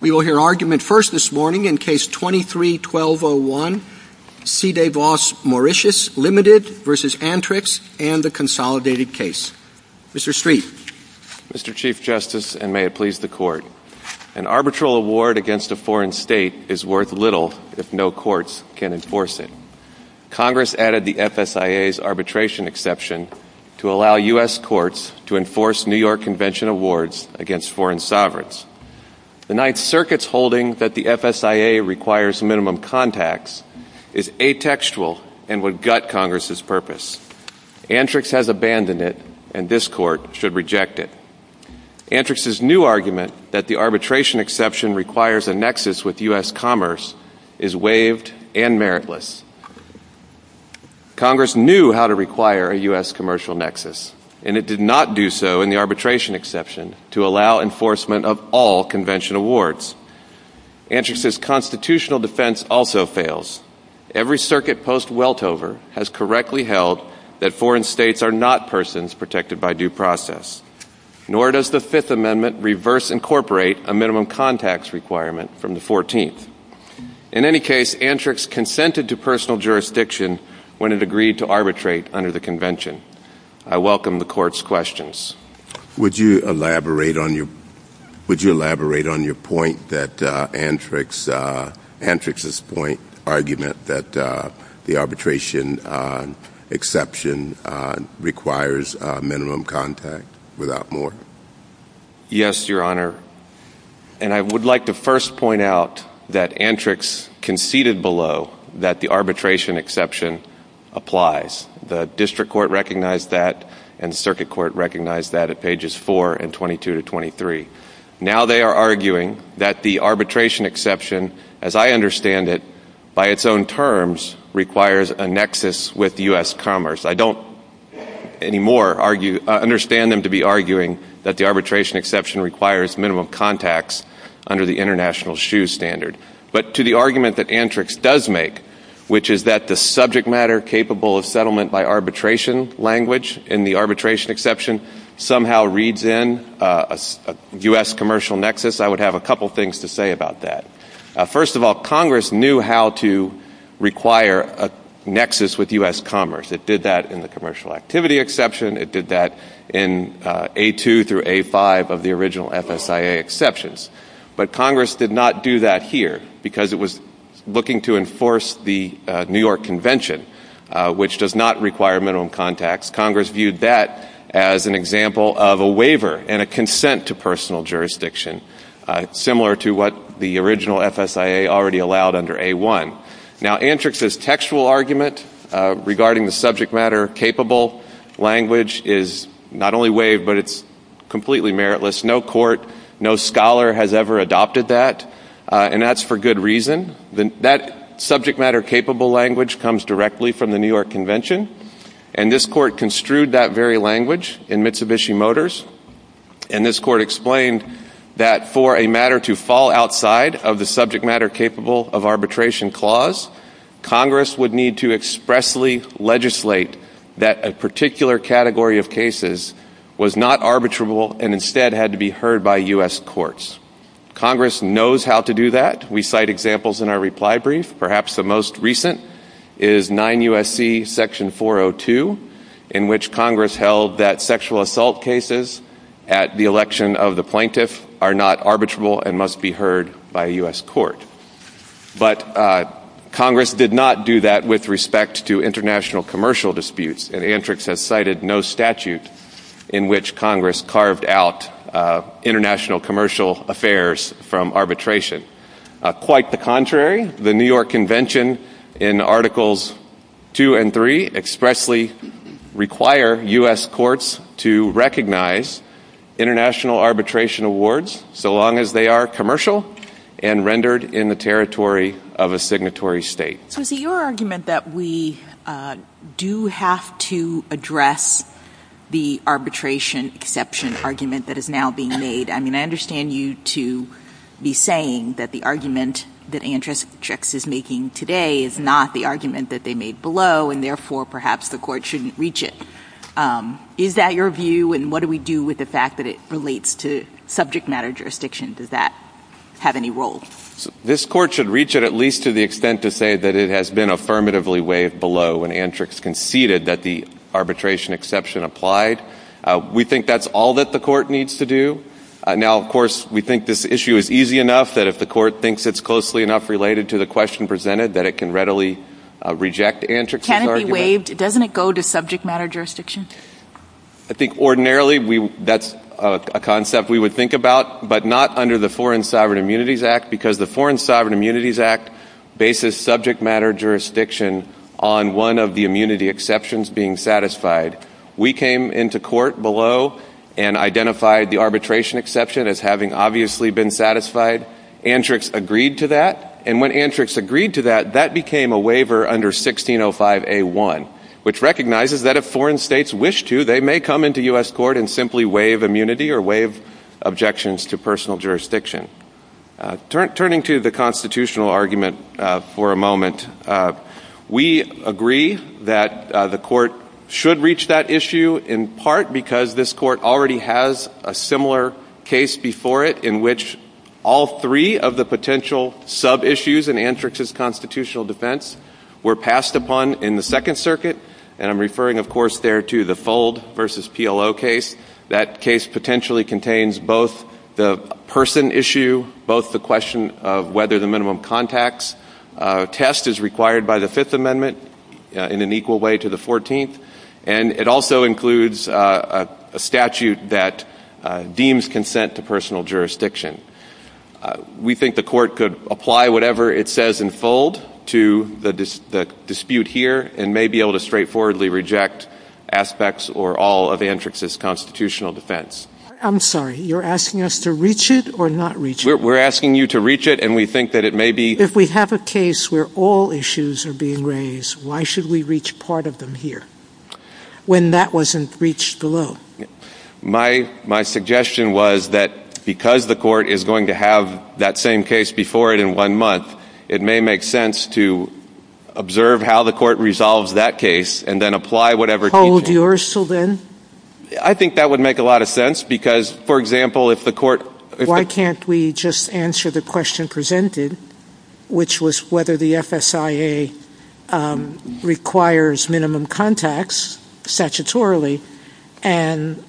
We will hear argument first this morning in Case 23-1201, C. DeVos-Mauritius Ltd. v. Antrix and the consolidated case. Mr. Street. Mr. Chief Justice, and may it please the Court, an arbitral award against a foreign state is worth little if no courts can enforce it. Congress added the FSIA's arbitration exception to allow U.S. courts to enforce New York Convention awards against foreign sovereigns. The Ninth Circuit's holding that the FSIA requires minimum contacts is atextual and would gut Congress's purpose. Antrix has abandoned it, and this Court should reject it. Antrix's new argument that the arbitration exception requires a nexus with U.S. commerce is waived and meritless. Congress knew how to require a U.S. commercial nexus, and it did not do so in the arbitration exception to allow enforcement of all Convention awards. Antrix's constitutional defense also fails. Every circuit post-Weltover has correctly held that foreign states are not persons protected by due process. Nor does the Fifth Amendment reverse incorporate a minimum contacts requirement from the Fourteenth. In any case, Antrix consented to personal jurisdiction when it agreed to arbitrate under the Convention. I welcome the Court's questions. Would you elaborate on your point that Antrix's argument that the arbitration exception requires minimum contact without more? Yes, Your Honor. And I would like to first point out that Antrix conceded below that the arbitration exception applies. The District Court recognized that, and the Circuit Court recognized that at pages 4 and 22 to 23. Now they are arguing that the arbitration exception, as I understand it, by its own terms requires a nexus with U.S. commerce. I don't anymore understand them to be arguing that the arbitration exception requires minimum contacts under the international SHU standard. But to the argument that Antrix does make, which is that the subject matter capable of settlement by arbitration language in the arbitration exception somehow reads in a U.S. commercial nexus, I would have a couple things to say about that. First of all, Congress knew how to require a nexus with U.S. commerce. It did that in the commercial activity exception. It did that in A2 through A5 of the original FSIA exceptions. But Congress did not do that here because it was looking to enforce the New York Convention, which does not require minimum contacts. Congress viewed that as an example of a waiver and a consent to personal jurisdiction, similar to what the original FSIA already allowed under A1. Now Antrix's textual argument regarding the subject matter capable language is not only waived, but it's completely meritless. No court, no scholar has ever adopted that, and that's for good reason. That subject matter capable language comes directly from the New York Convention, and this court construed that very language in Mitsubishi Motors. And this court explained that for a matter to fall outside of the subject matter capable of arbitration clause, Congress would need to expressly legislate that a particular category of cases was not arbitrable and instead had to be heard by U.S. courts. Congress knows how to do that. We cite examples in our reply brief. Perhaps the most recent is 9 U.S.C. section 402, in which Congress held that sexual assault cases at the election of the plaintiff are not arbitrable and must be heard by a U.S. court. But Congress did not do that with respect to international commercial disputes, and the United States has cited no statute in which Congress carved out international commercial affairs from arbitration. Quite the contrary, the New York Convention in Articles 2 and 3 expressly require U.S. courts to recognize international arbitration awards so long as they are commercial and rendered in the territory of a signatory state. So is it your argument that we do have to address the arbitration exception argument that is now being made? I mean, I understand you to be saying that the argument that Andrzejczyk is making today is not the argument that they made below, and therefore perhaps the court shouldn't reach it. Is that your view, and what do we do with the fact that it relates to subject matter jurisdiction? Does that have any role? This court should reach it at least to the extent to say that it has been affirmatively waived below when Andrzejczyk conceded that the arbitration exception applied. We think that's all that the court needs to do. Now, of course, we think this issue is easy enough that if the court thinks it's closely enough related to the question presented that it can readily reject Andrzejczyk's argument. Can it be waived? Doesn't it go to subject matter jurisdiction? I think ordinarily that's a concept we would think about, but not under the Foreign Sovereign Immunities Act, because the Foreign Sovereign Immunities Act bases subject matter jurisdiction on one of the immunity exceptions being satisfied. We came into court below and identified the arbitration exception as having obviously been satisfied. Andrzejczyk's agreed to that, and when Andrzejczyk's agreed to that, that became a waiver under 1605A1, which recognizes that if foreign states wish to, they may come into U.S. court and simply waive immunity or waive objections to personal jurisdiction. Turning to the constitutional argument for a moment, we agree that the court should reach that issue in part because this court already has a similar case before it in which all three of the potential sub-issues in Andrzejczyk's constitutional defense were passed upon in the Second Circuit, and I'm referring, of course, there to the Fold v. PLO case. That case potentially contains both the person issue, both the question of whether the minimum contacts test is required by the Fifth Amendment in an equal way to the Fourteenth, and it also includes a statute that deems consent to personal jurisdiction. We think the court could apply whatever it says in Fold to the dispute here and may be able to straightforwardly reject aspects or all of Andrzejczyk's constitutional defense. I'm sorry. You're asking us to reach it or not reach it? We're asking you to reach it, and we think that it may be— If we have a case where all issues are being raised, why should we reach part of them here when that wasn't reached below? My suggestion was that because the court is going to have that same case before it in one month, it may make sense to observe how the court resolves that case and then apply whatever teaching— Hold yours till then? I think that would make a lot of sense because, for example, if the court— Why can't we just answer the question presented, which was whether the FSIA requires minimum contacts statutorily and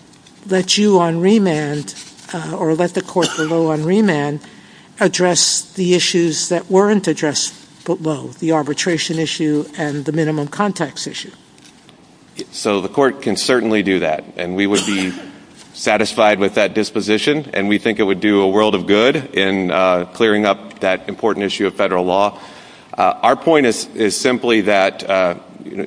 let you on remand or let the court below on remand address the issues that weren't addressed below, the arbitration issue and the minimum contacts issue? So the court can certainly do that, and we would be satisfied with that disposition, and we think it would do a world of good in clearing up that important issue of federal law. Our point is simply that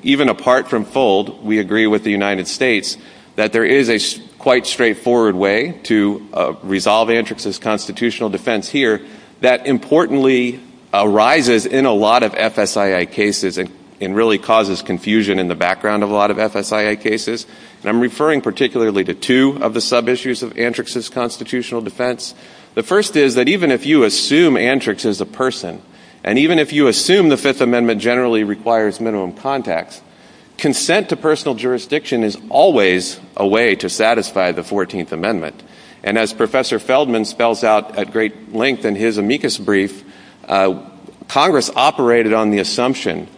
even apart from FOLD, we agree with the United States that there is a quite straightforward way to resolve antrixist constitutional defense here that importantly arises in a lot of FSIA cases and really causes confusion in the background of a lot of FSIA cases, and I'm referring particularly to two of the sub-issues of antrixist constitutional defense. The first is that even if you assume antrix is a person, and even if you assume the Fifth Amendment generally requires minimum contacts, consent to personal jurisdiction is always a way to satisfy the Fourteenth Amendment, and as Professor Feldman spells out at great length in his amicus brief, Congress operated on the assumption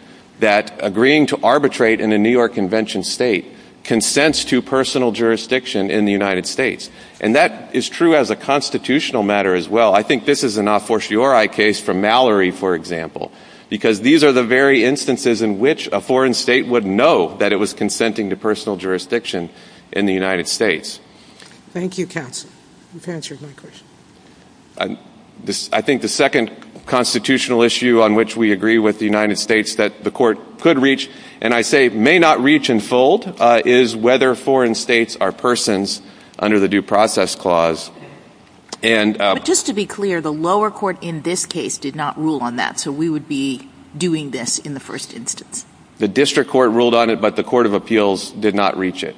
that agreeing to arbitrate in a New York Convention state consents to personal jurisdiction in the United States, and that is true as a constitutional matter as well. I think this is an a fortiori case from Mallory, for example, because these are the very instances in which a foreign state would know that it was consenting to personal jurisdiction in the United States. Thank you, counsel. You've answered my question. I think the second constitutional issue on which we agree with the United States that the court could reach, and I say may not reach in FOLD, is whether foreign states are persons under the Due Process Clause, and But just to be clear, the lower court in this case did not rule on that, so we would be doing this in the first instance. The district court ruled on it, but the Court of Appeals did not reach it.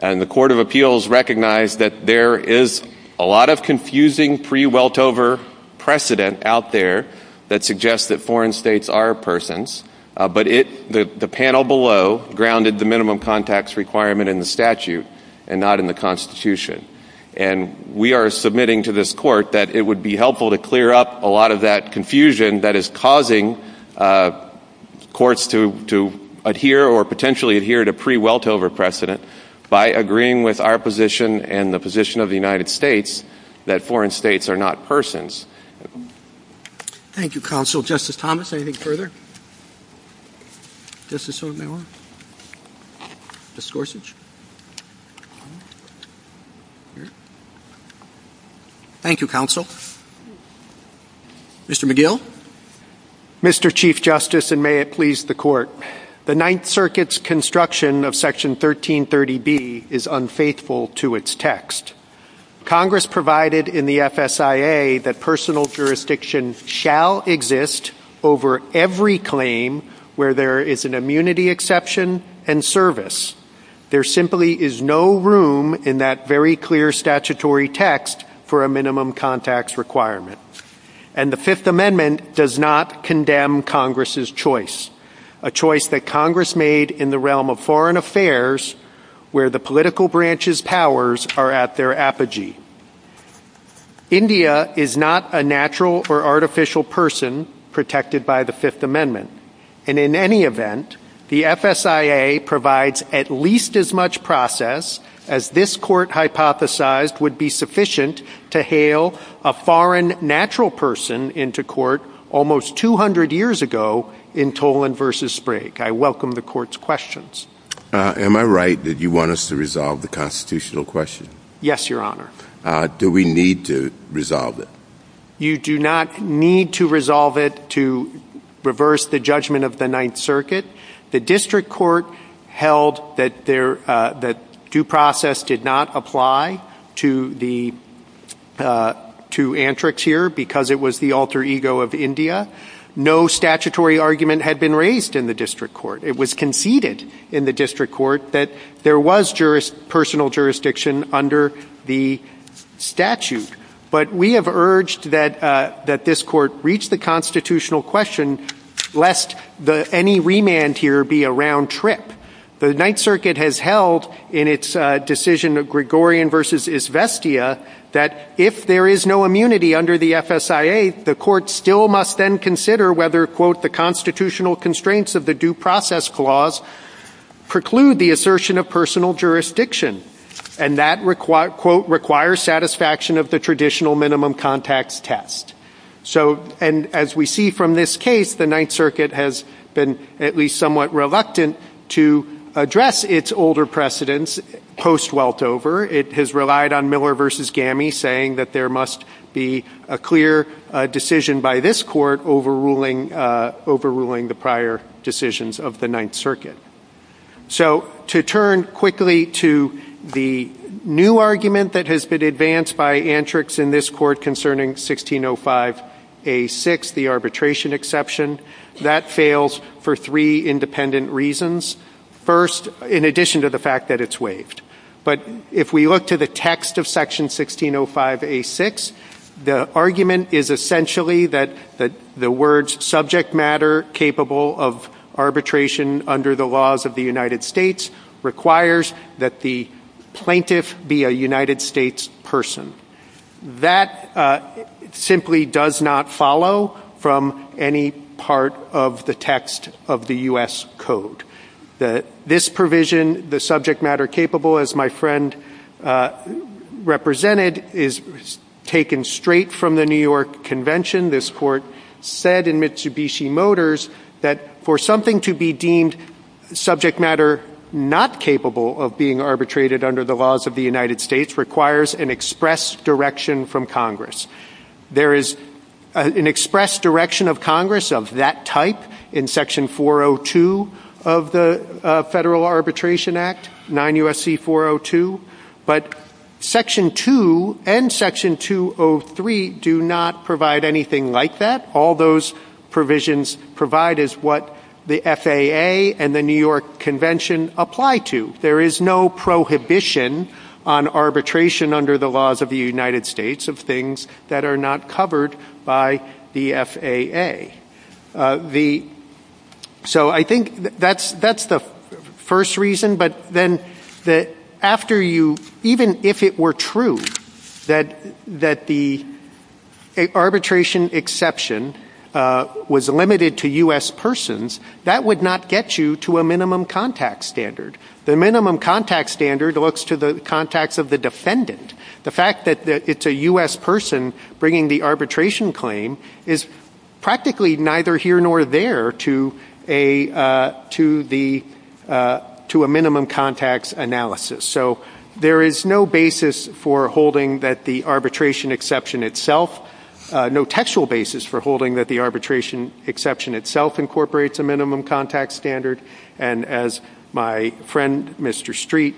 And the Court of Appeals recognized that there is a lot of confusing pre-Weltover precedent out there that suggests that foreign states are persons, but the panel below grounded the minimum contacts requirement in the statute and not in the Constitution. And we are submitting to this court that it would be helpful to clear up a lot of that confusion that is causing courts to adhere or potentially adhere to pre-Weltover precedent by agreeing with our position and the position of the United States that foreign states are not persons. Thank you, counsel. Justice Thomas, anything further? Justice Sotomayor? Justice Gorsuch? Thank you, counsel. Mr. McGill? Mr. Chief Justice, and may it please the Court. The Ninth Circuit's construction of Section 1330B is unfaithful to its text. Congress provided in the FSIA that personal jurisdiction shall exist over every claim where there is an immunity exception and service. There simply is no room in that very clear statutory text for a minimum contacts requirement. And the Fifth Amendment does not condemn Congress's choice, a choice that Congress made in the India is not a natural or artificial person protected by the Fifth Amendment. And in any event, the FSIA provides at least as much process as this Court hypothesized would be sufficient to hail a foreign natural person into court almost 200 years ago in Tolan v. Sprague. I welcome the Court's questions. Am I right that you want us to resolve the constitutional question? Yes, Your Honor. Do we need to resolve it? You do not need to resolve it to reverse the judgment of the Ninth Circuit. The District Court held that due process did not apply to antrics here because it was the alter ego of India. No statutory argument had been raised in the District Court. It was conceded in the District Court that there was personal jurisdiction under the statute. But we have urged that this Court reach the constitutional question lest any remand here be a round trip. The Ninth Circuit has held in its decision of Gregorian v. Izvestia that if there is no immunity under the FSIA, the Court still must then consider whether, quote, the constitutional constraints of the due process clause preclude the assertion of personal jurisdiction. And that, quote, requires satisfaction of the traditional minimum contacts test. And as we see from this case, the Ninth Circuit has been at least somewhat reluctant to address its older precedents post-Weltover. It has relied on Miller v. Gammy saying that there must be a clear decision by this Court overruling the prior decisions of the Ninth Circuit. So to turn quickly to the new argument that has been advanced by antrics in this Court concerning 1605A6, the arbitration exception, that fails for three independent reasons. First, in addition to the fact that it's waived. But if we look to the text of Section 1605A6, the argument is essentially that the words subject matter capable of arbitration under the laws of the United States requires that the plaintiff be a United States person. That simply does not follow from any part of the text of the U.S. Code. This provision, the subject matter capable, as my friend represented, is taken straight from the New York Convention. This Court said in Mitsubishi Motors that for something to be deemed subject matter not capable of being arbitrated under the laws of the United States requires an express direction from Congress. There is an express direction of Congress of that type in Section 402 of the Federal Arbitration Act, 9 U.S.C. 402. But Section 2 and Section 203 do not provide anything like that. All those provisions provide is what the FAA and the New York Convention apply to. There is no prohibition on arbitration under the laws of the United States of things that are not covered by the FAA. So I think that's the first reason. But then after you, even if it were true that the arbitration exception was limited to U.S. persons, that would not get you to a minimum contact standard. The minimum contact standard looks to the contacts of the defendant. The fact that it's a U.S. person bringing the arbitration claim is practically neither here nor there to a minimum contacts analysis. So there is no basis for holding that the arbitration exception itself, no textual basis for holding that the arbitration exception itself incorporates a minimum contact standard. And as my friend Mr. Street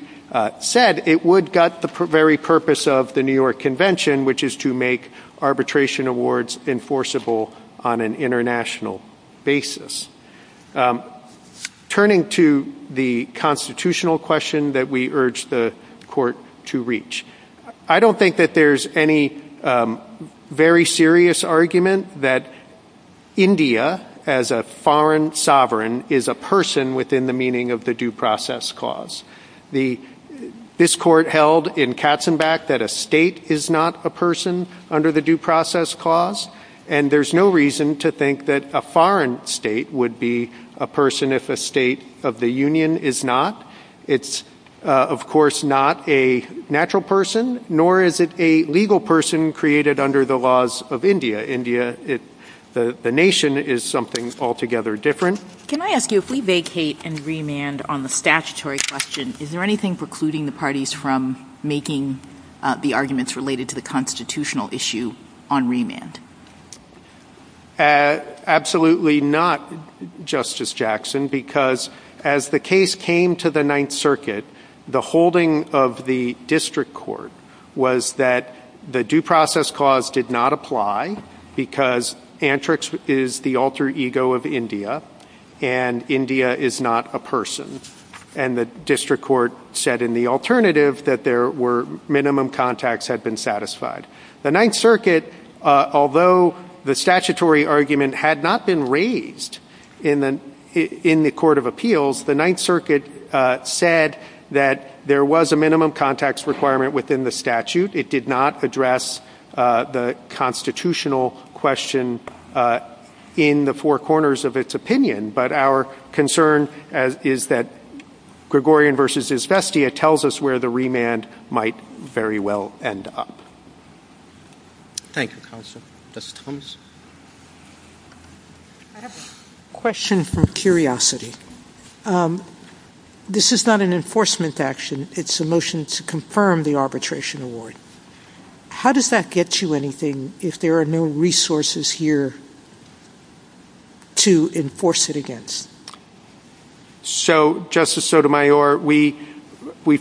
said, it would gut the very purpose of the New York Convention, which is to make arbitration awards enforceable on an international basis. Turning to the constitutional question that we urge the court to reach, I don't think that there's any very serious argument that India, as a foreign sovereign, is a person within the meaning of the due process clause. This court held in Katzenbach that a state is not a person under the due process clause, and there's no reason to think that a foreign state would be a person if a state of the union is not. It's of course not a natural person, nor is it a legal person created under the laws of India. India, the nation, is something altogether different. Can I ask you, if we vacate and remand on the statutory question, is there anything precluding the parties from making the arguments related to the constitutional issue on remand? Absolutely not, Justice Jackson, because as the case came to the Ninth Circuit, the holding of the district court was that the due process clause did not apply, because antrix is the alter ego of India, and India is not a person. And the district court said in the alternative that there were minimum contacts had been satisfied. The Ninth Circuit, although the statutory argument had not been raised in the court of appeals, the Ninth Circuit said that there was a minimum contacts requirement within the statute. It did not address the constitutional question in the four corners of its opinion. But our concern is that Gregorian versus Izvestia tells us where the remand might very well end up. Thank you, Counsel. Justice Thomas? I have a question from Curiosity. This is not an enforcement action. It's a motion to confirm the arbitration award. How does that get you anything if there are no resources here to enforce it against? So, Justice Sotomayor, we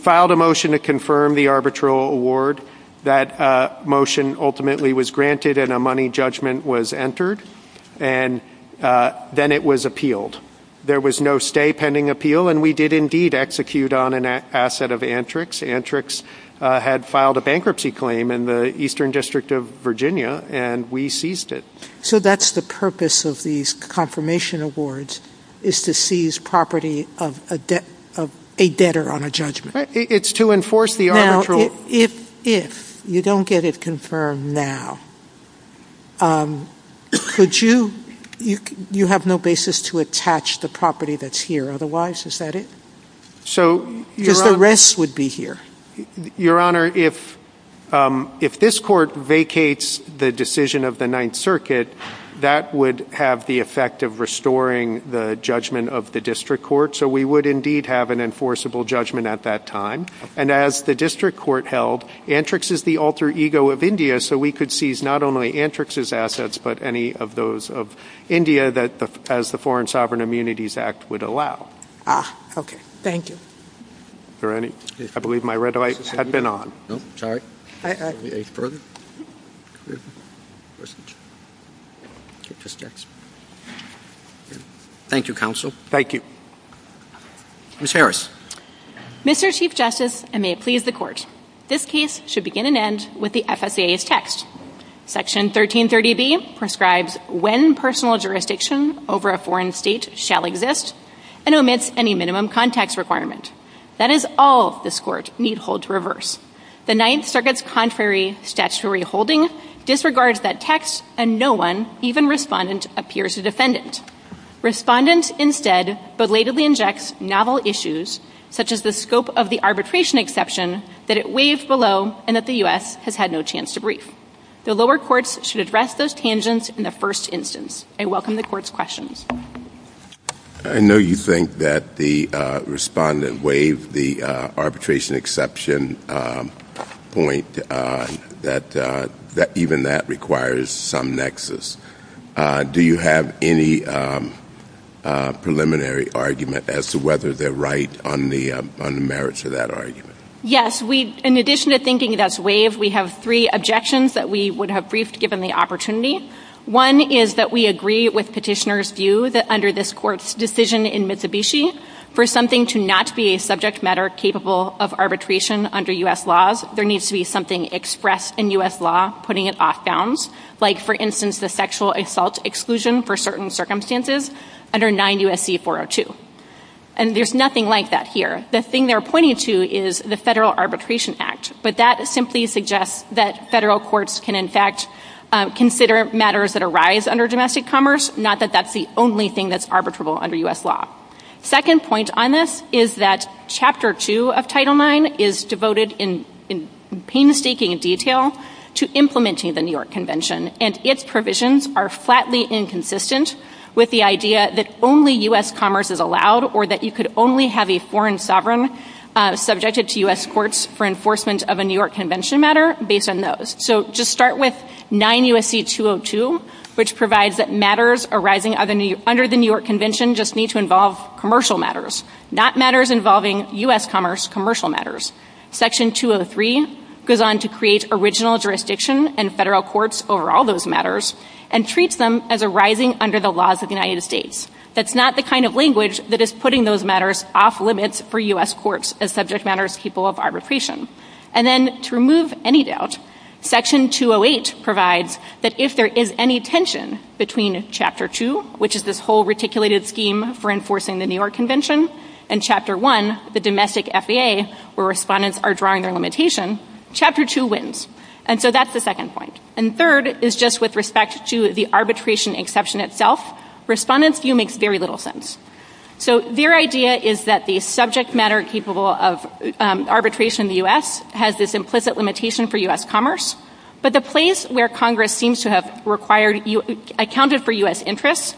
filed a motion to confirm the arbitral award. That motion ultimately was granted and a money judgment was entered, and then it was appealed. There was no stay pending appeal, and we did indeed execute on an asset of antrix. Antrix had filed a bankruptcy claim in the Eastern District of Virginia, and we seized it. So that's the purpose of these confirmation awards is to seize property of a debtor on a judgment. It's to enforce the arbitral. Now, if you don't get it confirmed now, could you – you have no basis to attach the property that's here. Otherwise, is that it? Because the rest would be here. Your Honor, if this court vacates the decision of the Ninth Circuit, that would have the effect of restoring the judgment of the district court. So we would indeed have an enforceable judgment at that time. And as the district court held, antrix is the alter ego of India, so we could seize not only antrix's assets but any of those of India as the Foreign Sovereign Immunities Act would allow. Ah, okay. Thank you. Is there any – I believe my red light has been on. No, sorry. I – I – Thank you, Counsel. Thank you. Ms. Harris. Mr. Chief Justice, and may it please the Court, this case should begin and end with the FSA's text. Section 1330B prescribes when personal jurisdiction over a foreign state shall exist and omits any minimum context requirement. That is all this Court need hold to reverse. The Ninth Circuit's contrary statutory holding disregards that text, and no one, even Respondent, appears to defend it. Respondent instead belatedly injects novel issues, such as the scope of the arbitration exception, that it waived below and that the U.S. has had no chance to brief. The lower courts should address those tangents in the first instance. I welcome the Court's questions. I know you think that the Respondent waived the arbitration exception point, that even that requires some nexus. Do you have any preliminary argument as to whether they're right on the merits of that argument? Yes. In addition to thinking that's waived, we have three objections that we would have briefed given the opportunity. One is that we agree with Petitioner's view that under this Court's decision in Mitsubishi, for something to not be a subject matter capable of arbitration under U.S. laws, there needs to be something expressed in U.S. law putting it off bounds, like, for instance, the sexual assault exclusion for certain circumstances under 9 U.S.C. 402. And there's nothing like that here. The thing they're pointing to is the Federal Arbitration Act, but that simply suggests that federal courts can, in fact, consider matters that arise under domestic commerce, not that that's the only thing that's arbitrable under U.S. law. Second point on this is that Chapter 2 of Title IX is devoted in painstaking detail to implementing the New York Convention, and its provisions are flatly inconsistent with the idea that only U.S. commerce is allowed or that you could only have a foreign sovereign subjected to U.S. courts for enforcement of a New York Convention matter based on those. So just start with 9 U.S.C. 202, which provides that matters arising under the New York Convention just need to involve commercial matters, not matters involving U.S. commerce commercial matters. Section 203 goes on to create original jurisdiction and federal courts over all those matters and treats them as arising under the laws of the United States. That's not the kind of language that is putting those matters off limits for U.S. courts as subject matters people of arbitration. And then to remove any doubt, Section 208 provides that if there is any tension between Chapter 2, which is this whole reticulated scheme for enforcing the New York Convention, and Chapter 1, the domestic FAA, where respondents are drawing their limitation, Chapter 2 wins. And so that's the second point. And third is just with respect to the arbitration exception itself, respondents' view makes very little sense. So their idea is that the subject matter capable of arbitration in the U.S. has this implicit limitation for U.S. commerce, but the place where Congress seems to have accounted for U.S. interests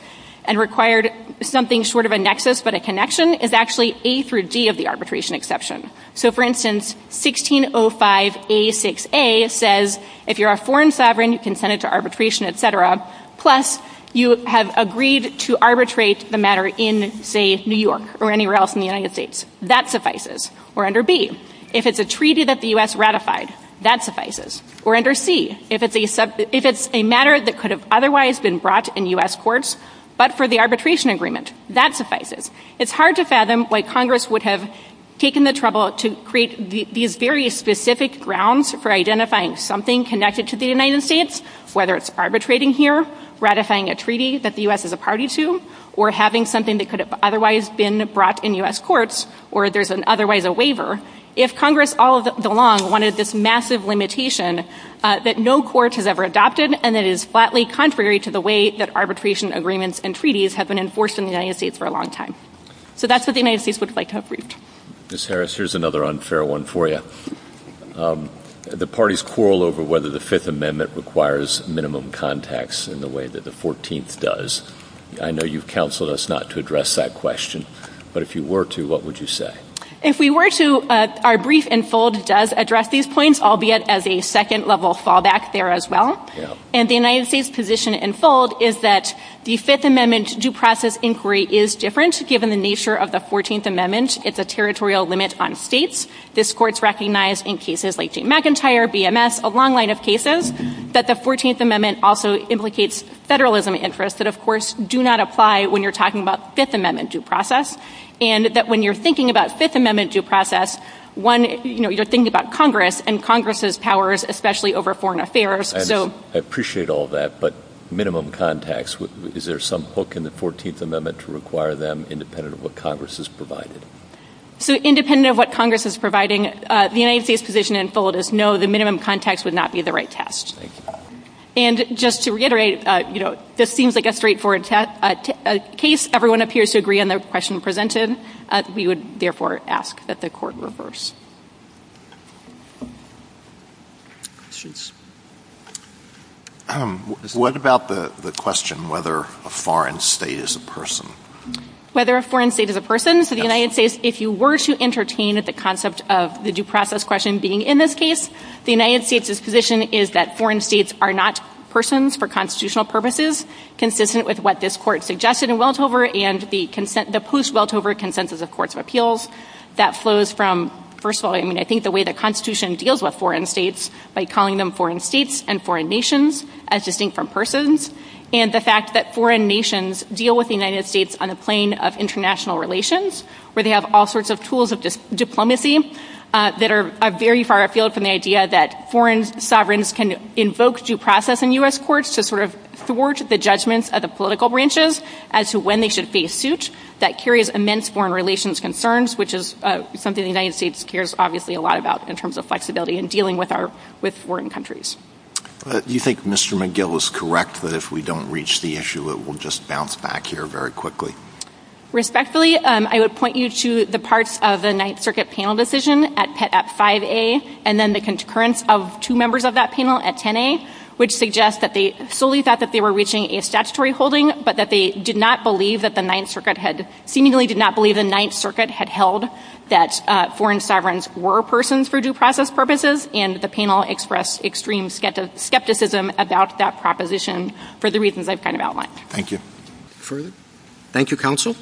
and required something short of a nexus but a connection is actually A through D of the arbitration exception. So, for instance, 1605A6A says if you're a foreign sovereign, you can send it to arbitration, et cetera, plus you have agreed to arbitrate the matter in, say, New York or anywhere else in the United States. That suffices. Or under B, if it's a treaty that the U.S. ratified, that suffices. Or under C, if it's a matter that could have otherwise been brought in U.S. courts but for the arbitration agreement, that suffices. It's hard to fathom why Congress would have taken the trouble to create these very specific grounds for identifying something connected to the United States, whether it's arbitrating here, ratifying a treaty that the U.S. is a party to, or having something that could have otherwise been brought in U.S. courts or there's otherwise a waiver, if Congress all along wanted this massive limitation that no court has ever adopted and it is flatly contrary to the way that arbitration agreements and treaties have been enforced in the United States for a long time. So that's what the United States would like to have reaped. Ms. Harris, here's another unfair one for you. The parties quarrel over whether the Fifth Amendment requires minimum contacts in the way that the Fourteenth does. I know you've counseled us not to address that question, but if you were to, what would you say? If we were to, our brief in fold does address these points, albeit as a second-level fallback there as well. And the United States position in fold is that the Fifth Amendment due process inquiry is different, given the nature of the Fourteenth Amendment. It's a territorial limit on states. This Court's recognized in cases like Jane McIntyre, BMS, a long line of cases, that the Fourteenth Amendment also implicates federalism interests that, of course, do not apply when you're talking about Fifth Amendment due process, and that when you're thinking about Fifth Amendment due process, one, you know, you're thinking about Congress and Congress's powers, especially over foreign affairs. I appreciate all that, but minimum contacts, is there some hook in the Fourteenth Amendment to require them independent of what Congress has provided? So independent of what Congress is providing, the United States position in fold is no, the minimum contacts would not be the right test. Thank you. And just to reiterate, you know, this seems like a straightforward case. Everyone appears to agree on the question presented. We would, therefore, ask that the Court reverse. Questions? What about the question whether a foreign state is a person? Whether a foreign state is a person? So the United States, if you were to entertain the concept of the due process question being in this case, the United States' position is that foreign states are not persons for constitutional purposes, consistent with what this Court suggested in Weltover and the post-Weltover consensus of courts of appeals. That flows from, first of all, I mean, I think the way the Constitution deals with foreign states, by calling them foreign states and foreign nations, as distinct from persons, and the fact that foreign nations deal with the United States on the plane of international relations, where they have all sorts of tools of diplomacy that are very far afield from the idea that foreign sovereigns can invoke due process in U.S. courts to sort of thwart the judgments of the political branches as to when they should face suit. That carries immense foreign relations concerns, which is something the United States cares obviously a lot about in terms of flexibility in dealing with foreign countries. Do you think Mr. McGill is correct that if we don't reach the issue it will just bounce back here very quickly? Respectfully, I would point you to the parts of the Ninth Circuit panel decision at 5A and then the concurrence of two members of that panel at 10A, which suggests that they solely thought that they were reaching a statutory holding, but that they did not believe that the Ninth Circuit had held that foreign sovereigns were persons for due process purposes, and the panel expressed extreme skepticism about that proposition for the reasons I've kind of outlined. Thank you. Further? Thank you, counsel.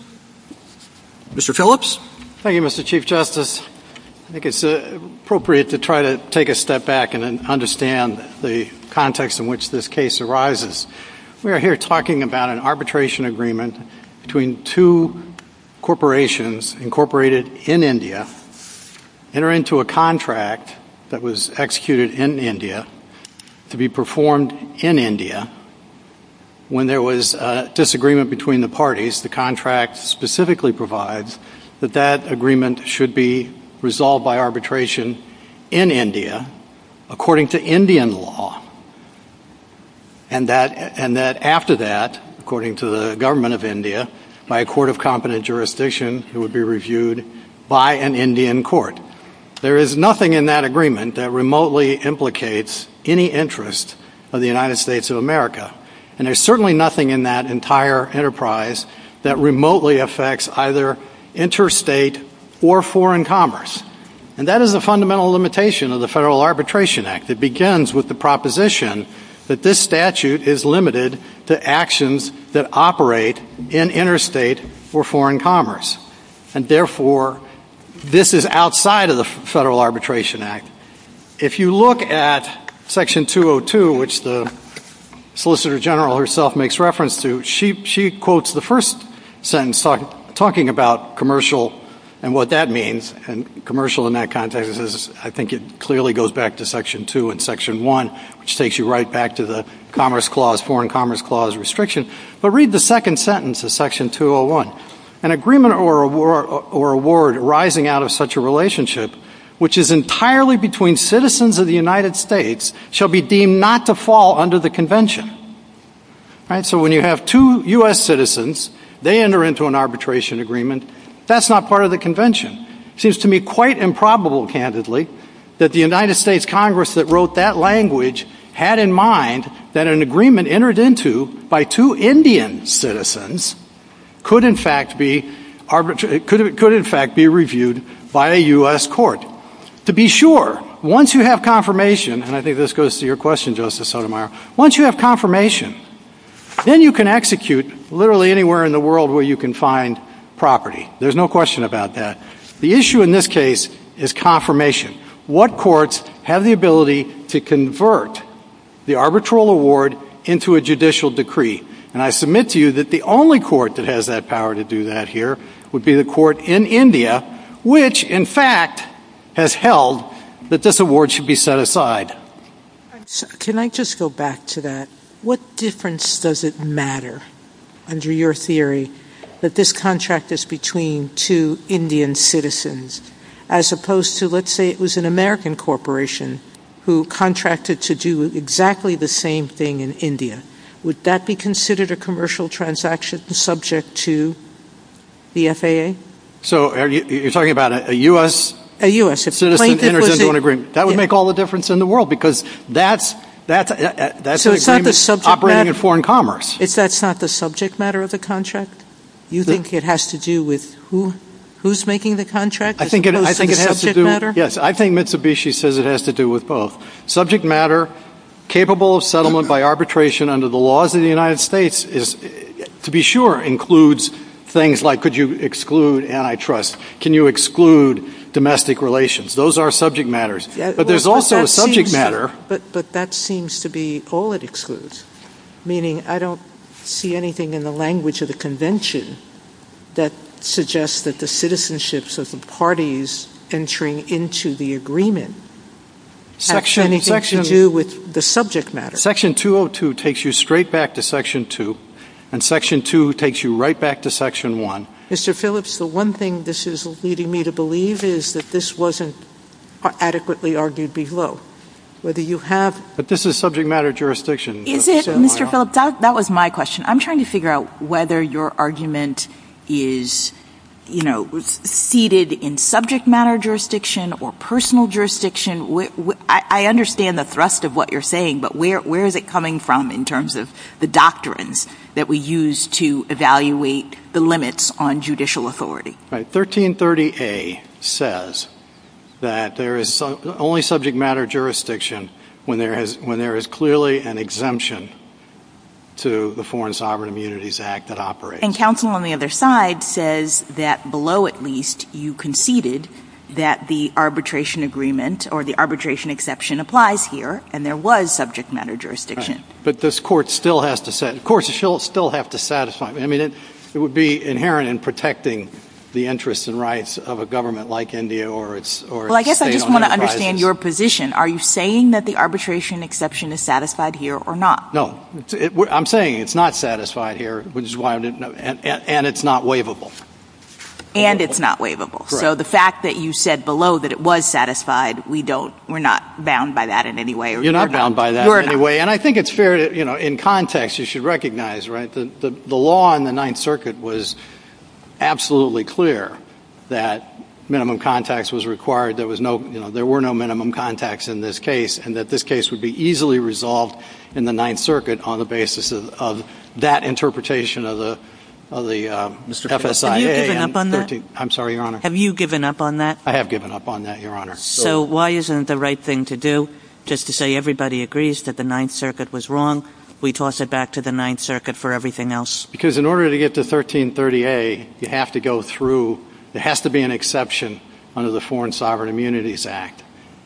Mr. Phillips? Thank you, Mr. Chief Justice. I think it's appropriate to try to take a step back and understand the context in which this case arises. We are here talking about an arbitration agreement between two corporations incorporated in India, entering into a contract that was executed in India to be performed in India. When there was a disagreement between the parties, the contract specifically provides that that agreement should be resolved by arbitration in India, according to Indian law, and that after that, according to the government of India, by a court of competent jurisdiction, it would be reviewed by an Indian court. There is nothing in that agreement that remotely implicates any interest of the United States of America, and there's certainly nothing in that entire enterprise that remotely affects either interstate or foreign commerce. And that is a fundamental limitation of the Federal Arbitration Act. It begins with the proposition that this statute is limited to actions that operate in interstate or foreign commerce, and therefore this is outside of the Federal Arbitration Act. If you look at Section 202, which the Solicitor General herself makes reference to, she quotes the first sentence talking about commercial and what that means, and commercial in that context, I think it clearly goes back to Section 2 and Section 1, which takes you right back to the Commerce Clause, Foreign Commerce Clause restriction. But read the second sentence of Section 201. An agreement or award arising out of such a relationship, which is entirely between citizens of the United States, shall be deemed not to fall under the Convention. So when you have two U.S. citizens, they enter into an arbitration agreement, that's not part of the Convention. It seems to me quite improbable, candidly, that the United States Congress that wrote that language had in mind that an agreement entered into by two Indian citizens could in fact be reviewed by a U.S. court. To be sure, once you have confirmation, and I think this goes to your question, Justice Sotomayor, once you have confirmation, then you can execute literally anywhere in the world where you can find property. There's no question about that. The issue in this case is confirmation. What courts have the ability to convert the arbitral award into a judicial decree? And I submit to you that the only court that has that power to do that here would be the court in India, which in fact has held that this award should be set aside. Can I just go back to that? What difference does it matter under your theory that this contract is between two Indian citizens as opposed to let's say it was an American corporation who contracted to do exactly the same thing in India? Would that be considered a commercial transaction subject to the FAA? So you're talking about a U.S. citizen enters into an agreement. That would make all the difference in the world because that's an agreement operating in foreign commerce. So it's not the subject matter of the contract? You think it has to do with who's making the contract as opposed to the subject matter? Yes, I think Mitsubishi says it has to do with both. Subject matter capable of settlement by arbitration under the laws of the United States, to be sure, includes things like could you exclude antitrust, can you exclude domestic relations. Those are subject matters. But there's also a subject matter. But that seems to be all it excludes, meaning I don't see anything in the language of the convention that suggests that the citizenships of the parties entering into the agreement have anything to do with the subject matter. Section 202 takes you straight back to Section 2 and Section 2 takes you right back to Section 1. Mr. Phillips, the one thing this is leading me to believe is that this wasn't adequately argued below. Whether you have – But this is subject matter jurisdiction. Is it, Mr. Phillips? That was my question. I'm trying to figure out whether your argument is, you know, seated in subject matter jurisdiction or personal jurisdiction. I understand the thrust of what you're saying, but where is it coming from in terms of the doctrines that we use to evaluate the limits on judicial authority? Right. 1330A says that there is only subject matter jurisdiction when there is clearly an exemption to the Foreign Sovereign Immunities Act that operates. And counsel on the other side says that below at least you conceded that the arbitration agreement or the arbitration exception applies here and there was subject matter jurisdiction. But this Court still has to – the Court still has to satisfy – I mean, it would be inherent in protecting the interests and rights of a government like India or its state-owned enterprises. Well, I guess I just want to understand your position. Are you saying that the arbitration exception is satisfied here or not? No. I'm saying it's not satisfied here, which is why I didn't – and it's not waivable. And it's not waivable. Correct. So the fact that you said below that it was satisfied, we don't – we're not bound by that in any way. You're not bound by that in any way. And I think it's fair to – in context, you should recognize, right, the law in the Ninth Circuit was absolutely clear that minimum contacts was required. There was no – there were no minimum contacts in this case and that this case would be easily resolved in the Ninth Circuit on the basis of that interpretation of the FSIA. Have you given up on that? I'm sorry, Your Honor. Have you given up on that? I have given up on that, Your Honor. So why isn't it the right thing to do just to say everybody agrees that the Ninth Circuit was wrong, we toss it back to the Ninth Circuit for everything else? Because in order to get to 1330A, you have to go through – there has to be an exception under the Foreign Sovereign Immunities Act.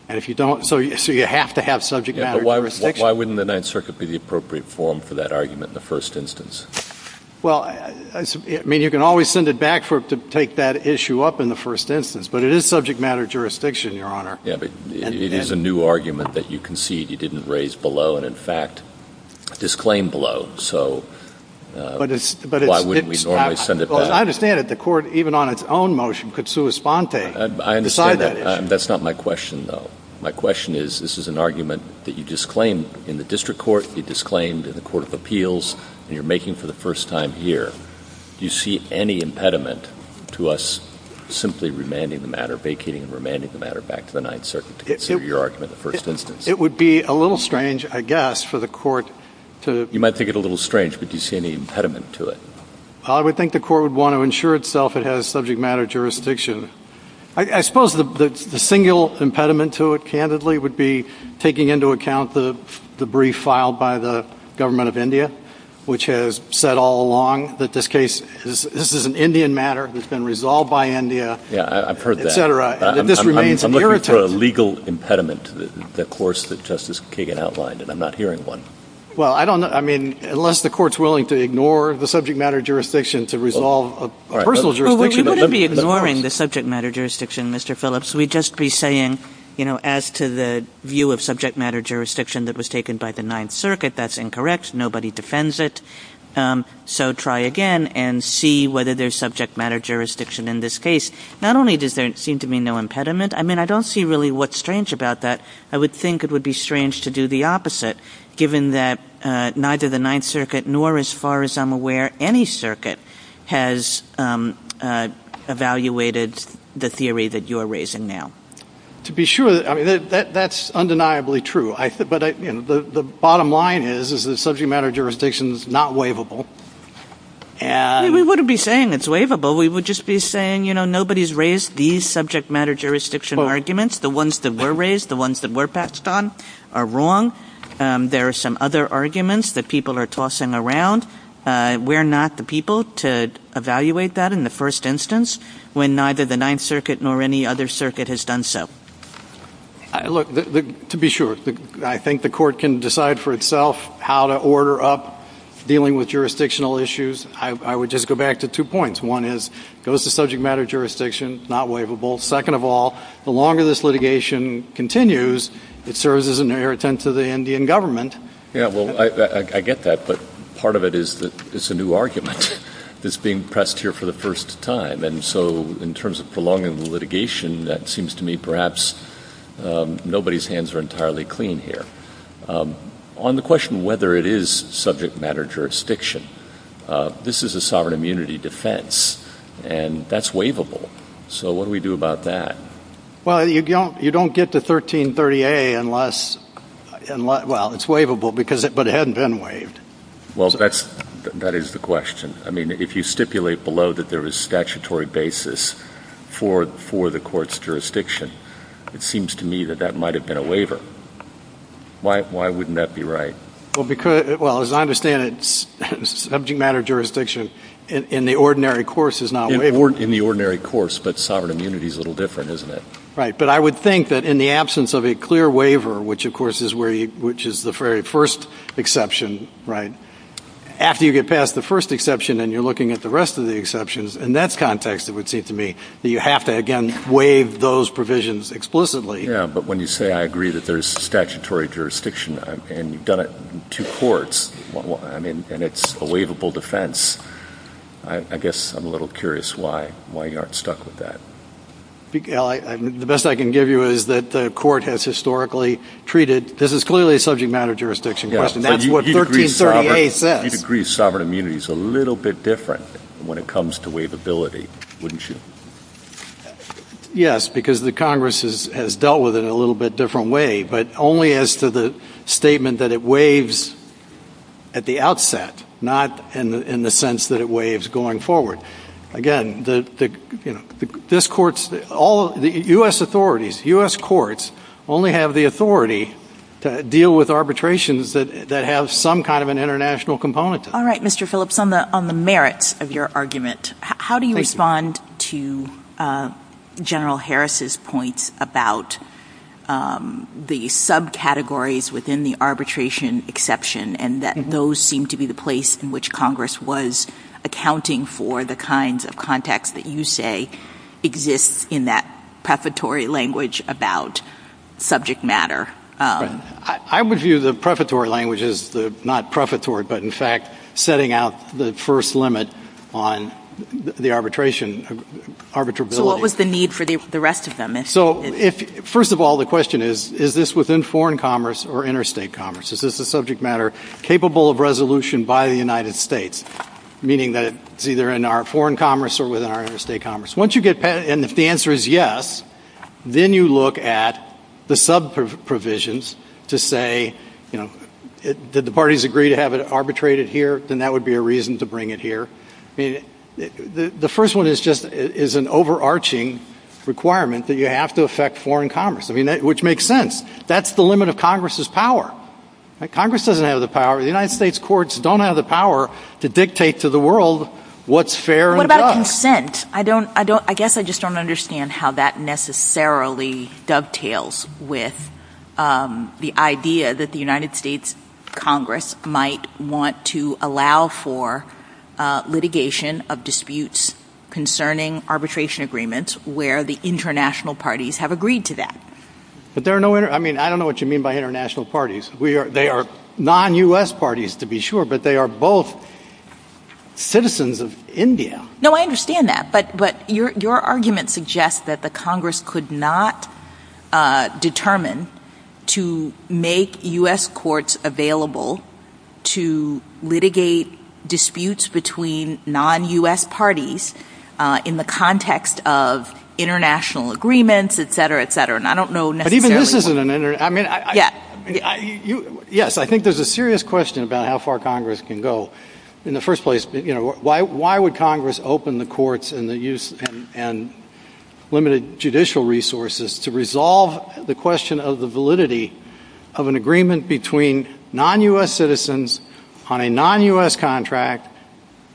And if you don't – so you have to have subject matter jurisdiction. Yeah, but why wouldn't the Ninth Circuit be the appropriate forum for that argument in the first instance? Well, I mean, you can always send it back to take that issue up in the first instance, but it is subject matter jurisdiction, Your Honor. Yeah, but it is a new argument that you concede you didn't raise below and, in fact, disclaim below. So why wouldn't we normally send it back? Well, I understand that the Court, even on its own motion, could sua sponte, decide that issue. I understand that. That's not my question, though. My question is this is an argument that you disclaimed in the district court, you disclaimed in the Court of Appeals, and you're making for the first time here. Do you see any impediment to us simply remanding the matter, vacating and remanding the matter, back to the Ninth Circuit to consider your argument in the first instance? It would be a little strange, I guess, for the Court to – You might think it a little strange, but do you see any impediment to it? I would think the Court would want to ensure itself it has subject matter jurisdiction. I suppose the single impediment to it, candidly, would be taking into account the brief filed by the Government of India, which has said all along that this case is – this is an Indian matter that's been resolved by India, et cetera. Yeah, I've heard that. This remains an irritant. I'm looking for a legal impediment to the course that Justice Kagan outlined, and I'm not hearing one. Well, I don't – I mean, unless the Court's willing to ignore the subject matter jurisdiction to resolve a personal jurisdiction. Well, we wouldn't be ignoring the subject matter jurisdiction, Mr. Phillips. We'd just be saying, you know, as to the view of subject matter jurisdiction that was taken by the Ninth Circuit, that's incorrect, nobody defends it, so try again and see whether there's subject matter jurisdiction in this case. Not only does there seem to be no impediment – I mean, I don't see really what's strange about that. I would think it would be strange to do the opposite, given that neither the Ninth Circuit nor, as far as I'm aware, any circuit has evaluated the theory that you're raising now. To be sure – I mean, that's undeniably true. But the bottom line is, is that subject matter jurisdiction is not waivable. We wouldn't be saying it's waivable. We would just be saying, you know, nobody's raised these subject matter jurisdiction arguments. The ones that were raised, the ones that were passed on, are wrong. There are some other arguments that people are tossing around. We're not the people to evaluate that in the first instance, when neither the Ninth Circuit nor any other circuit has done so. Look, to be sure, I think the court can decide for itself how to order up dealing with jurisdictional issues. I would just go back to two points. One is, goes to subject matter jurisdiction, not waivable. Second of all, the longer this litigation continues, it serves as an irritant to the Indian government. Yeah, well, I get that. But part of it is that it's a new argument that's being pressed here for the first time. And so in terms of prolonging the litigation, that seems to me perhaps nobody's hands are entirely clean here. On the question whether it is subject matter jurisdiction, this is a sovereign immunity defense. And that's waivable. So what do we do about that? Well, you don't get to 1330A unless, well, it's waivable, but it hadn't been waived. Well, that is the question. I mean, if you stipulate below that there is statutory basis for the court's jurisdiction, it seems to me that that might have been a waiver. Why wouldn't that be right? Well, as I understand it, subject matter jurisdiction in the ordinary course is not waivable. In the ordinary course, but sovereign immunity is a little different, isn't it? Right. But I would think that in the absence of a clear waiver, which, of course, is the very first exception, right, after you get past the first exception and you're looking at the rest of the exceptions, in that context it would seem to me that you have to, again, waive those provisions explicitly. Yeah. But when you say I agree that there's statutory jurisdiction and you've done it in two courts and it's a waivable defense, I guess I'm a little curious why you aren't stuck with that. The best I can give you is that the court has historically treated this is clearly a subject matter jurisdiction question. That's what 1330A says. You'd agree sovereign immunity is a little bit different when it comes to waivability, wouldn't you? Yes, because the Congress has dealt with it in a little bit different way, but only as to the statement that it waives at the outset, not in the sense that it waives going forward. Again, the U.S. courts only have the authority to deal with arbitrations that have some kind of an international component to them. All right, Mr. Phillips, on the merits of your argument, how do you respond to General Harris's points about the subcategories within the arbitration exception and that those seem to be the place in which Congress was accounting for the kinds of context that you say exists in that prefatory language about subject matter? I would view the prefatory language as not prefatory, but in fact setting out the first limit on the arbitration. So what was the need for the rest of them? First of all, the question is, is this within foreign commerce or interstate commerce? Is this a subject matter capable of resolution by the United States, meaning that it's either in our foreign commerce or within our interstate commerce? And if the answer is yes, then you look at the sub-provisions to say, you know, did the parties agree to have it arbitrated here? Then that would be a reason to bring it here. The first one is just an overarching requirement that you have to affect foreign commerce, which makes sense. That's the limit of Congress's power. Congress doesn't have the power. The United States courts don't have the power to dictate to the world what's fair and just. What about consent? I guess I just don't understand how that necessarily dovetails with the idea that the United States Congress might want to allow for litigation of disputes concerning arbitration agreements where the international parties have agreed to that. But there are no – I mean, I don't know what you mean by international parties. They are non-U.S. parties to be sure, but they are both citizens of India. No, I understand that. But your argument suggests that the Congress could not determine to make U.S. courts available to litigate disputes between non-U.S. parties in the context of international agreements, et cetera, et cetera. And I don't know necessarily – Yes, I think there's a serious question about how far Congress can go. In the first place, why would Congress open the courts and limited judicial resources to resolve the question of the validity of an agreement between non-U.S. citizens on a non-U.S. contract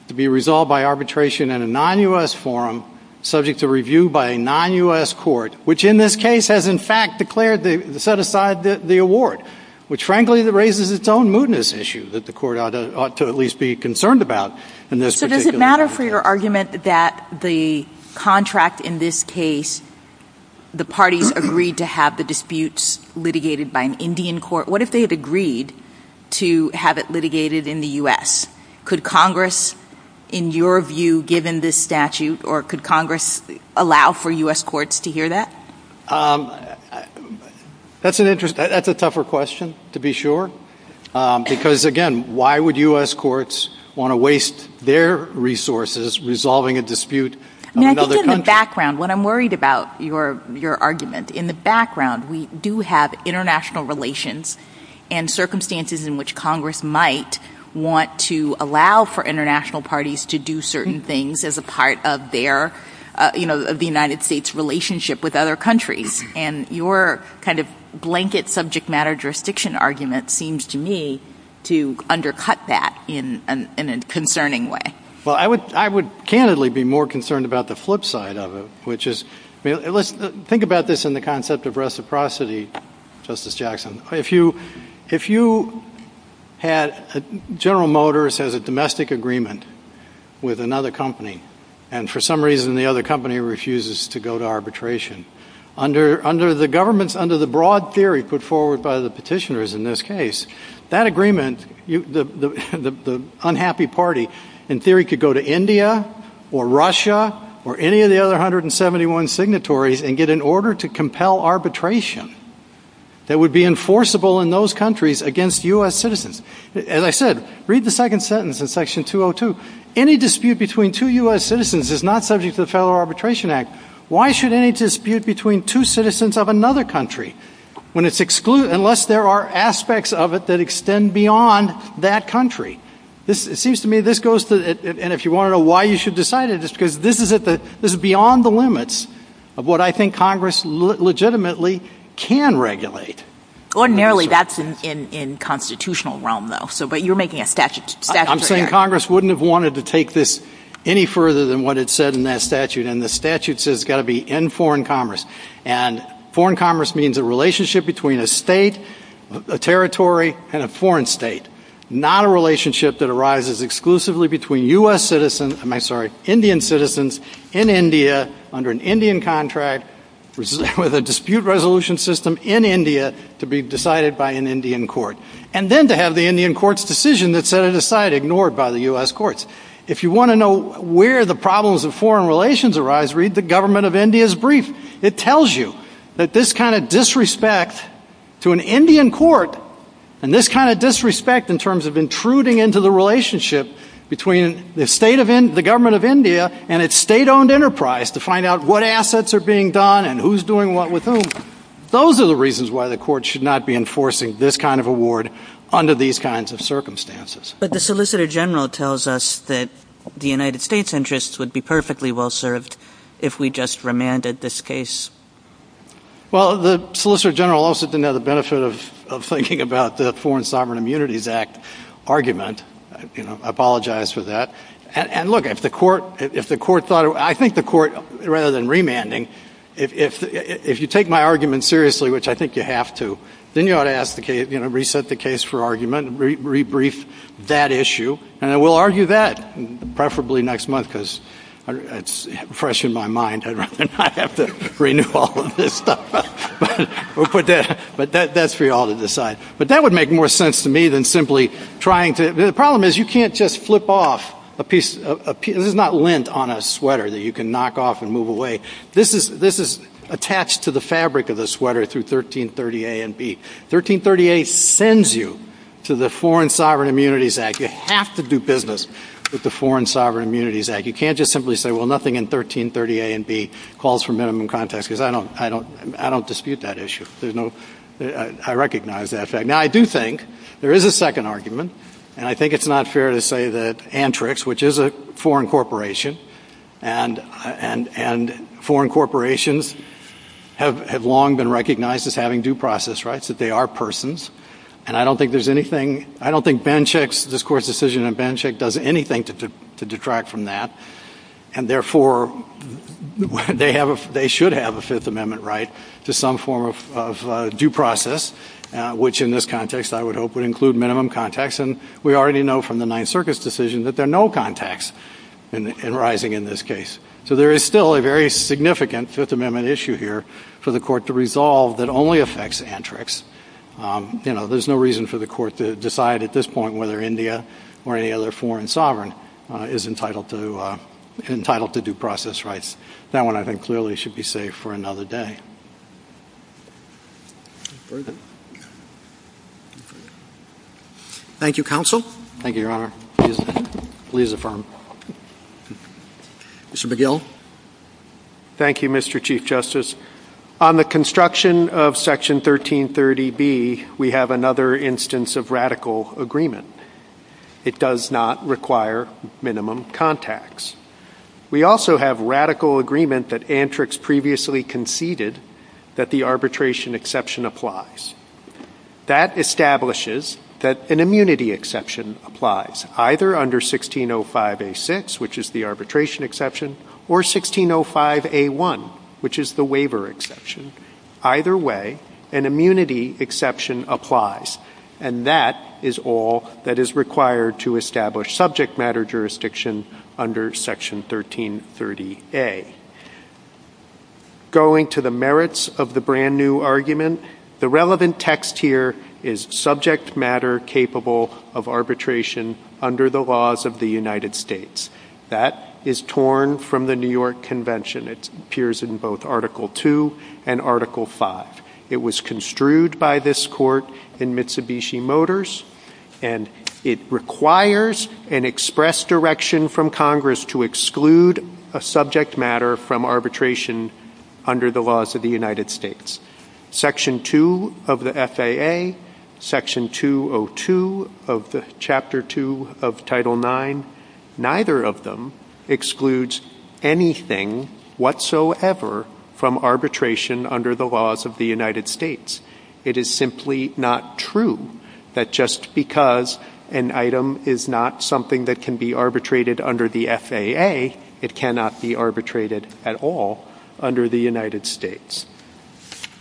to be resolved by arbitration in a non-U.S. forum subject to review by a non-U.S. court, which in this case has in fact declared – set aside the award, which frankly raises its own mootness issue that the court ought to at least be concerned about in this particular case. So does it matter for your argument that the contract in this case, the parties agreed to have the disputes litigated by an Indian court? What if they had agreed to have it litigated in the U.S.? Could Congress, in your view, given this statute, or could Congress allow for U.S. courts to hear that? That's an interesting – that's a tougher question to be sure. Because again, why would U.S. courts want to waste their resources resolving a dispute of another country? I think in the background, what I'm worried about your argument, in the background we do have international relations and circumstances in which Congress might want to allow for international parties to do certain things as a part of their – of the United States' relationship with other countries. And your kind of blanket subject matter jurisdiction argument seems to me to undercut that in a concerning way. Well, I would candidly be more concerned about the flip side of it, which is – think about this in the concept of reciprocity, Justice Jackson. If you had – General Motors has a domestic agreement with another company, and for some reason the other company refuses to go to arbitration. Under the governments – under the broad theory put forward by the petitioners in this case, that agreement – the unhappy party in theory could go to India or Russia or any of the other 171 signatories and get an order to compel arbitration that would be enforceable in those countries against U.S. citizens. As I said, read the second sentence in section 202. Any dispute between two U.S. citizens is not subject to the Federal Arbitration Act. Why should any dispute between two citizens of another country when it's – unless there are aspects of it that extend beyond that country? It seems to me this goes to – and if you want to know why you should decide it, this is beyond the limits of what I think Congress legitimately can regulate. Ordinarily, that's in constitutional realm, though. But you're making a statute. I'm saying Congress wouldn't have wanted to take this any further than what it said in that statute, and the statute says it's got to be in foreign commerce. And foreign commerce means a relationship between a state, a territory, and a foreign state, not a relationship that arises exclusively between U.S. citizens – I'm sorry, Indian citizens in India under an Indian contract with a dispute resolution system in India to be decided by an Indian court. And then to have the Indian court's decision that set it aside ignored by the U.S. courts. If you want to know where the problems of foreign relations arise, read the Government of India's brief. It tells you that this kind of disrespect to an Indian court, and this kind of disrespect in terms of intruding into the relationship between the state of – the Government of India and its state-owned enterprise to find out what assets are being done and who's doing what with whom, those are the reasons why the court should not be enforcing this kind of award under these kinds of circumstances. But the Solicitor General tells us that the United States' interests would be perfectly well served if we just remanded this case. Well, the Solicitor General also didn't have the benefit of thinking about the Foreign Sovereign Immunities Act argument. I apologize for that. And look, if the court thought – I think the court, rather than remanding, if you take my argument seriously, which I think you have to, then you ought to ask the case – reset the case for argument, rebrief that issue, and then we'll argue that, preferably next month, because it's fresh in my mind. I'd rather not have to renew all of this stuff. But that's for you all to decide. But that would make more sense to me than simply trying to – the problem is you can't just flip off a piece – this is not lint on a sweater that you can knock off and move away. This is attached to the fabric of the sweater through 1330 A and B. 1330 A sends you to the Foreign Sovereign Immunities Act. You have to do business with the Foreign Sovereign Immunities Act. You can't just simply say, well, nothing in 1330 A and B calls for minimum context, because I don't dispute that issue. I recognize that fact. Now, I do think there is a second argument, and I think it's not fair to say that Antrix, which is a foreign corporation, and foreign corporations have long been recognized as having due process rights. That they are persons. And I don't think there's anything – I don't think Benchik's – this Court's decision on Benchik does anything to detract from that. And therefore, they should have a Fifth Amendment right to some form of due process, which in this context I would hope would include minimum context. And we already know from the Ninth Circuit's decision that there are no contexts arising in this case. So there is still a very significant Fifth Amendment issue here for the Court to resolve that only affects Antrix. You know, there's no reason for the Court to decide at this point whether India or any other foreign sovereign is entitled to due process rights. That one I think clearly should be safe for another day. Thank you, Counsel. Thank you, Your Honor. Please affirm. Mr. McGill. Thank you, Mr. Chief Justice. On the construction of Section 1330B, we have another instance of radical agreement. It does not require minimum context. We also have radical agreement that Antrix previously conceded that the arbitration exception applies. That establishes that an immunity exception applies, either under 1605A6, which is the arbitration exception, or 1605A1, which is the waiver exception. Either way, an immunity exception applies. And that is all that is required to establish subject matter jurisdiction under Section 1330A. Going to the merits of the brand-new argument, the relevant text here is subject matter capable of arbitration under the laws of the United States. That is torn from the New York Convention. It appears in both Article II and Article V. It was construed by this Court in Mitsubishi Motors, and it requires an express direction from Congress to exclude a subject matter from arbitration under the laws of the United States. Section 2 of the FAA, Section 202 of Chapter 2 of Title IX, neither of them excludes anything whatsoever from arbitration under the laws of the United States. It is simply not true that just because an item is not something that can be arbitrated under the FAA, it cannot be arbitrated at all under the United States.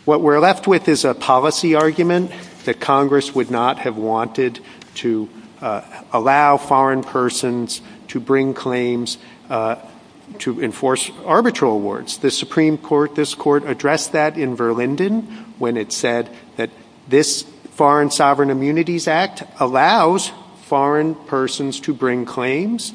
What we're left with is a policy argument that Congress would not have wanted to allow foreign persons to bring claims to enforce arbitral awards. The Supreme Court, this Court, addressed that in Verlinden, when it said that this Foreign Sovereign Immunities Act allows foreign persons to bring claims.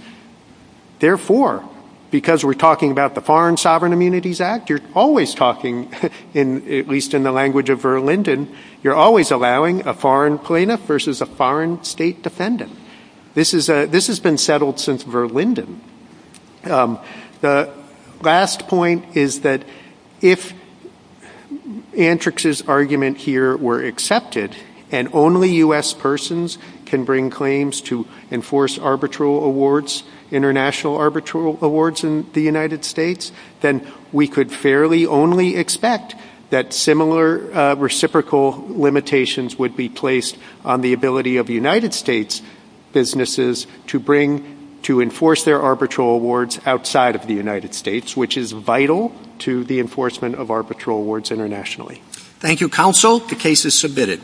Therefore, because we're talking about the Foreign Sovereign Immunities Act, you're always talking, at least in the language of Verlinden, you're always allowing a foreign plaintiff versus a foreign state defendant. This has been settled since Verlinden. The last point is that if Antrix's argument here were accepted and only U.S. persons can bring claims to enforce arbitral awards, international arbitral awards in the United States, then we could fairly only expect that similar reciprocal limitations would be placed on the ability of United States businesses to enforce their arbitral awards outside of the United States, which is vital to the enforcement of arbitral awards internationally. Thank you, Counsel. The case is submitted.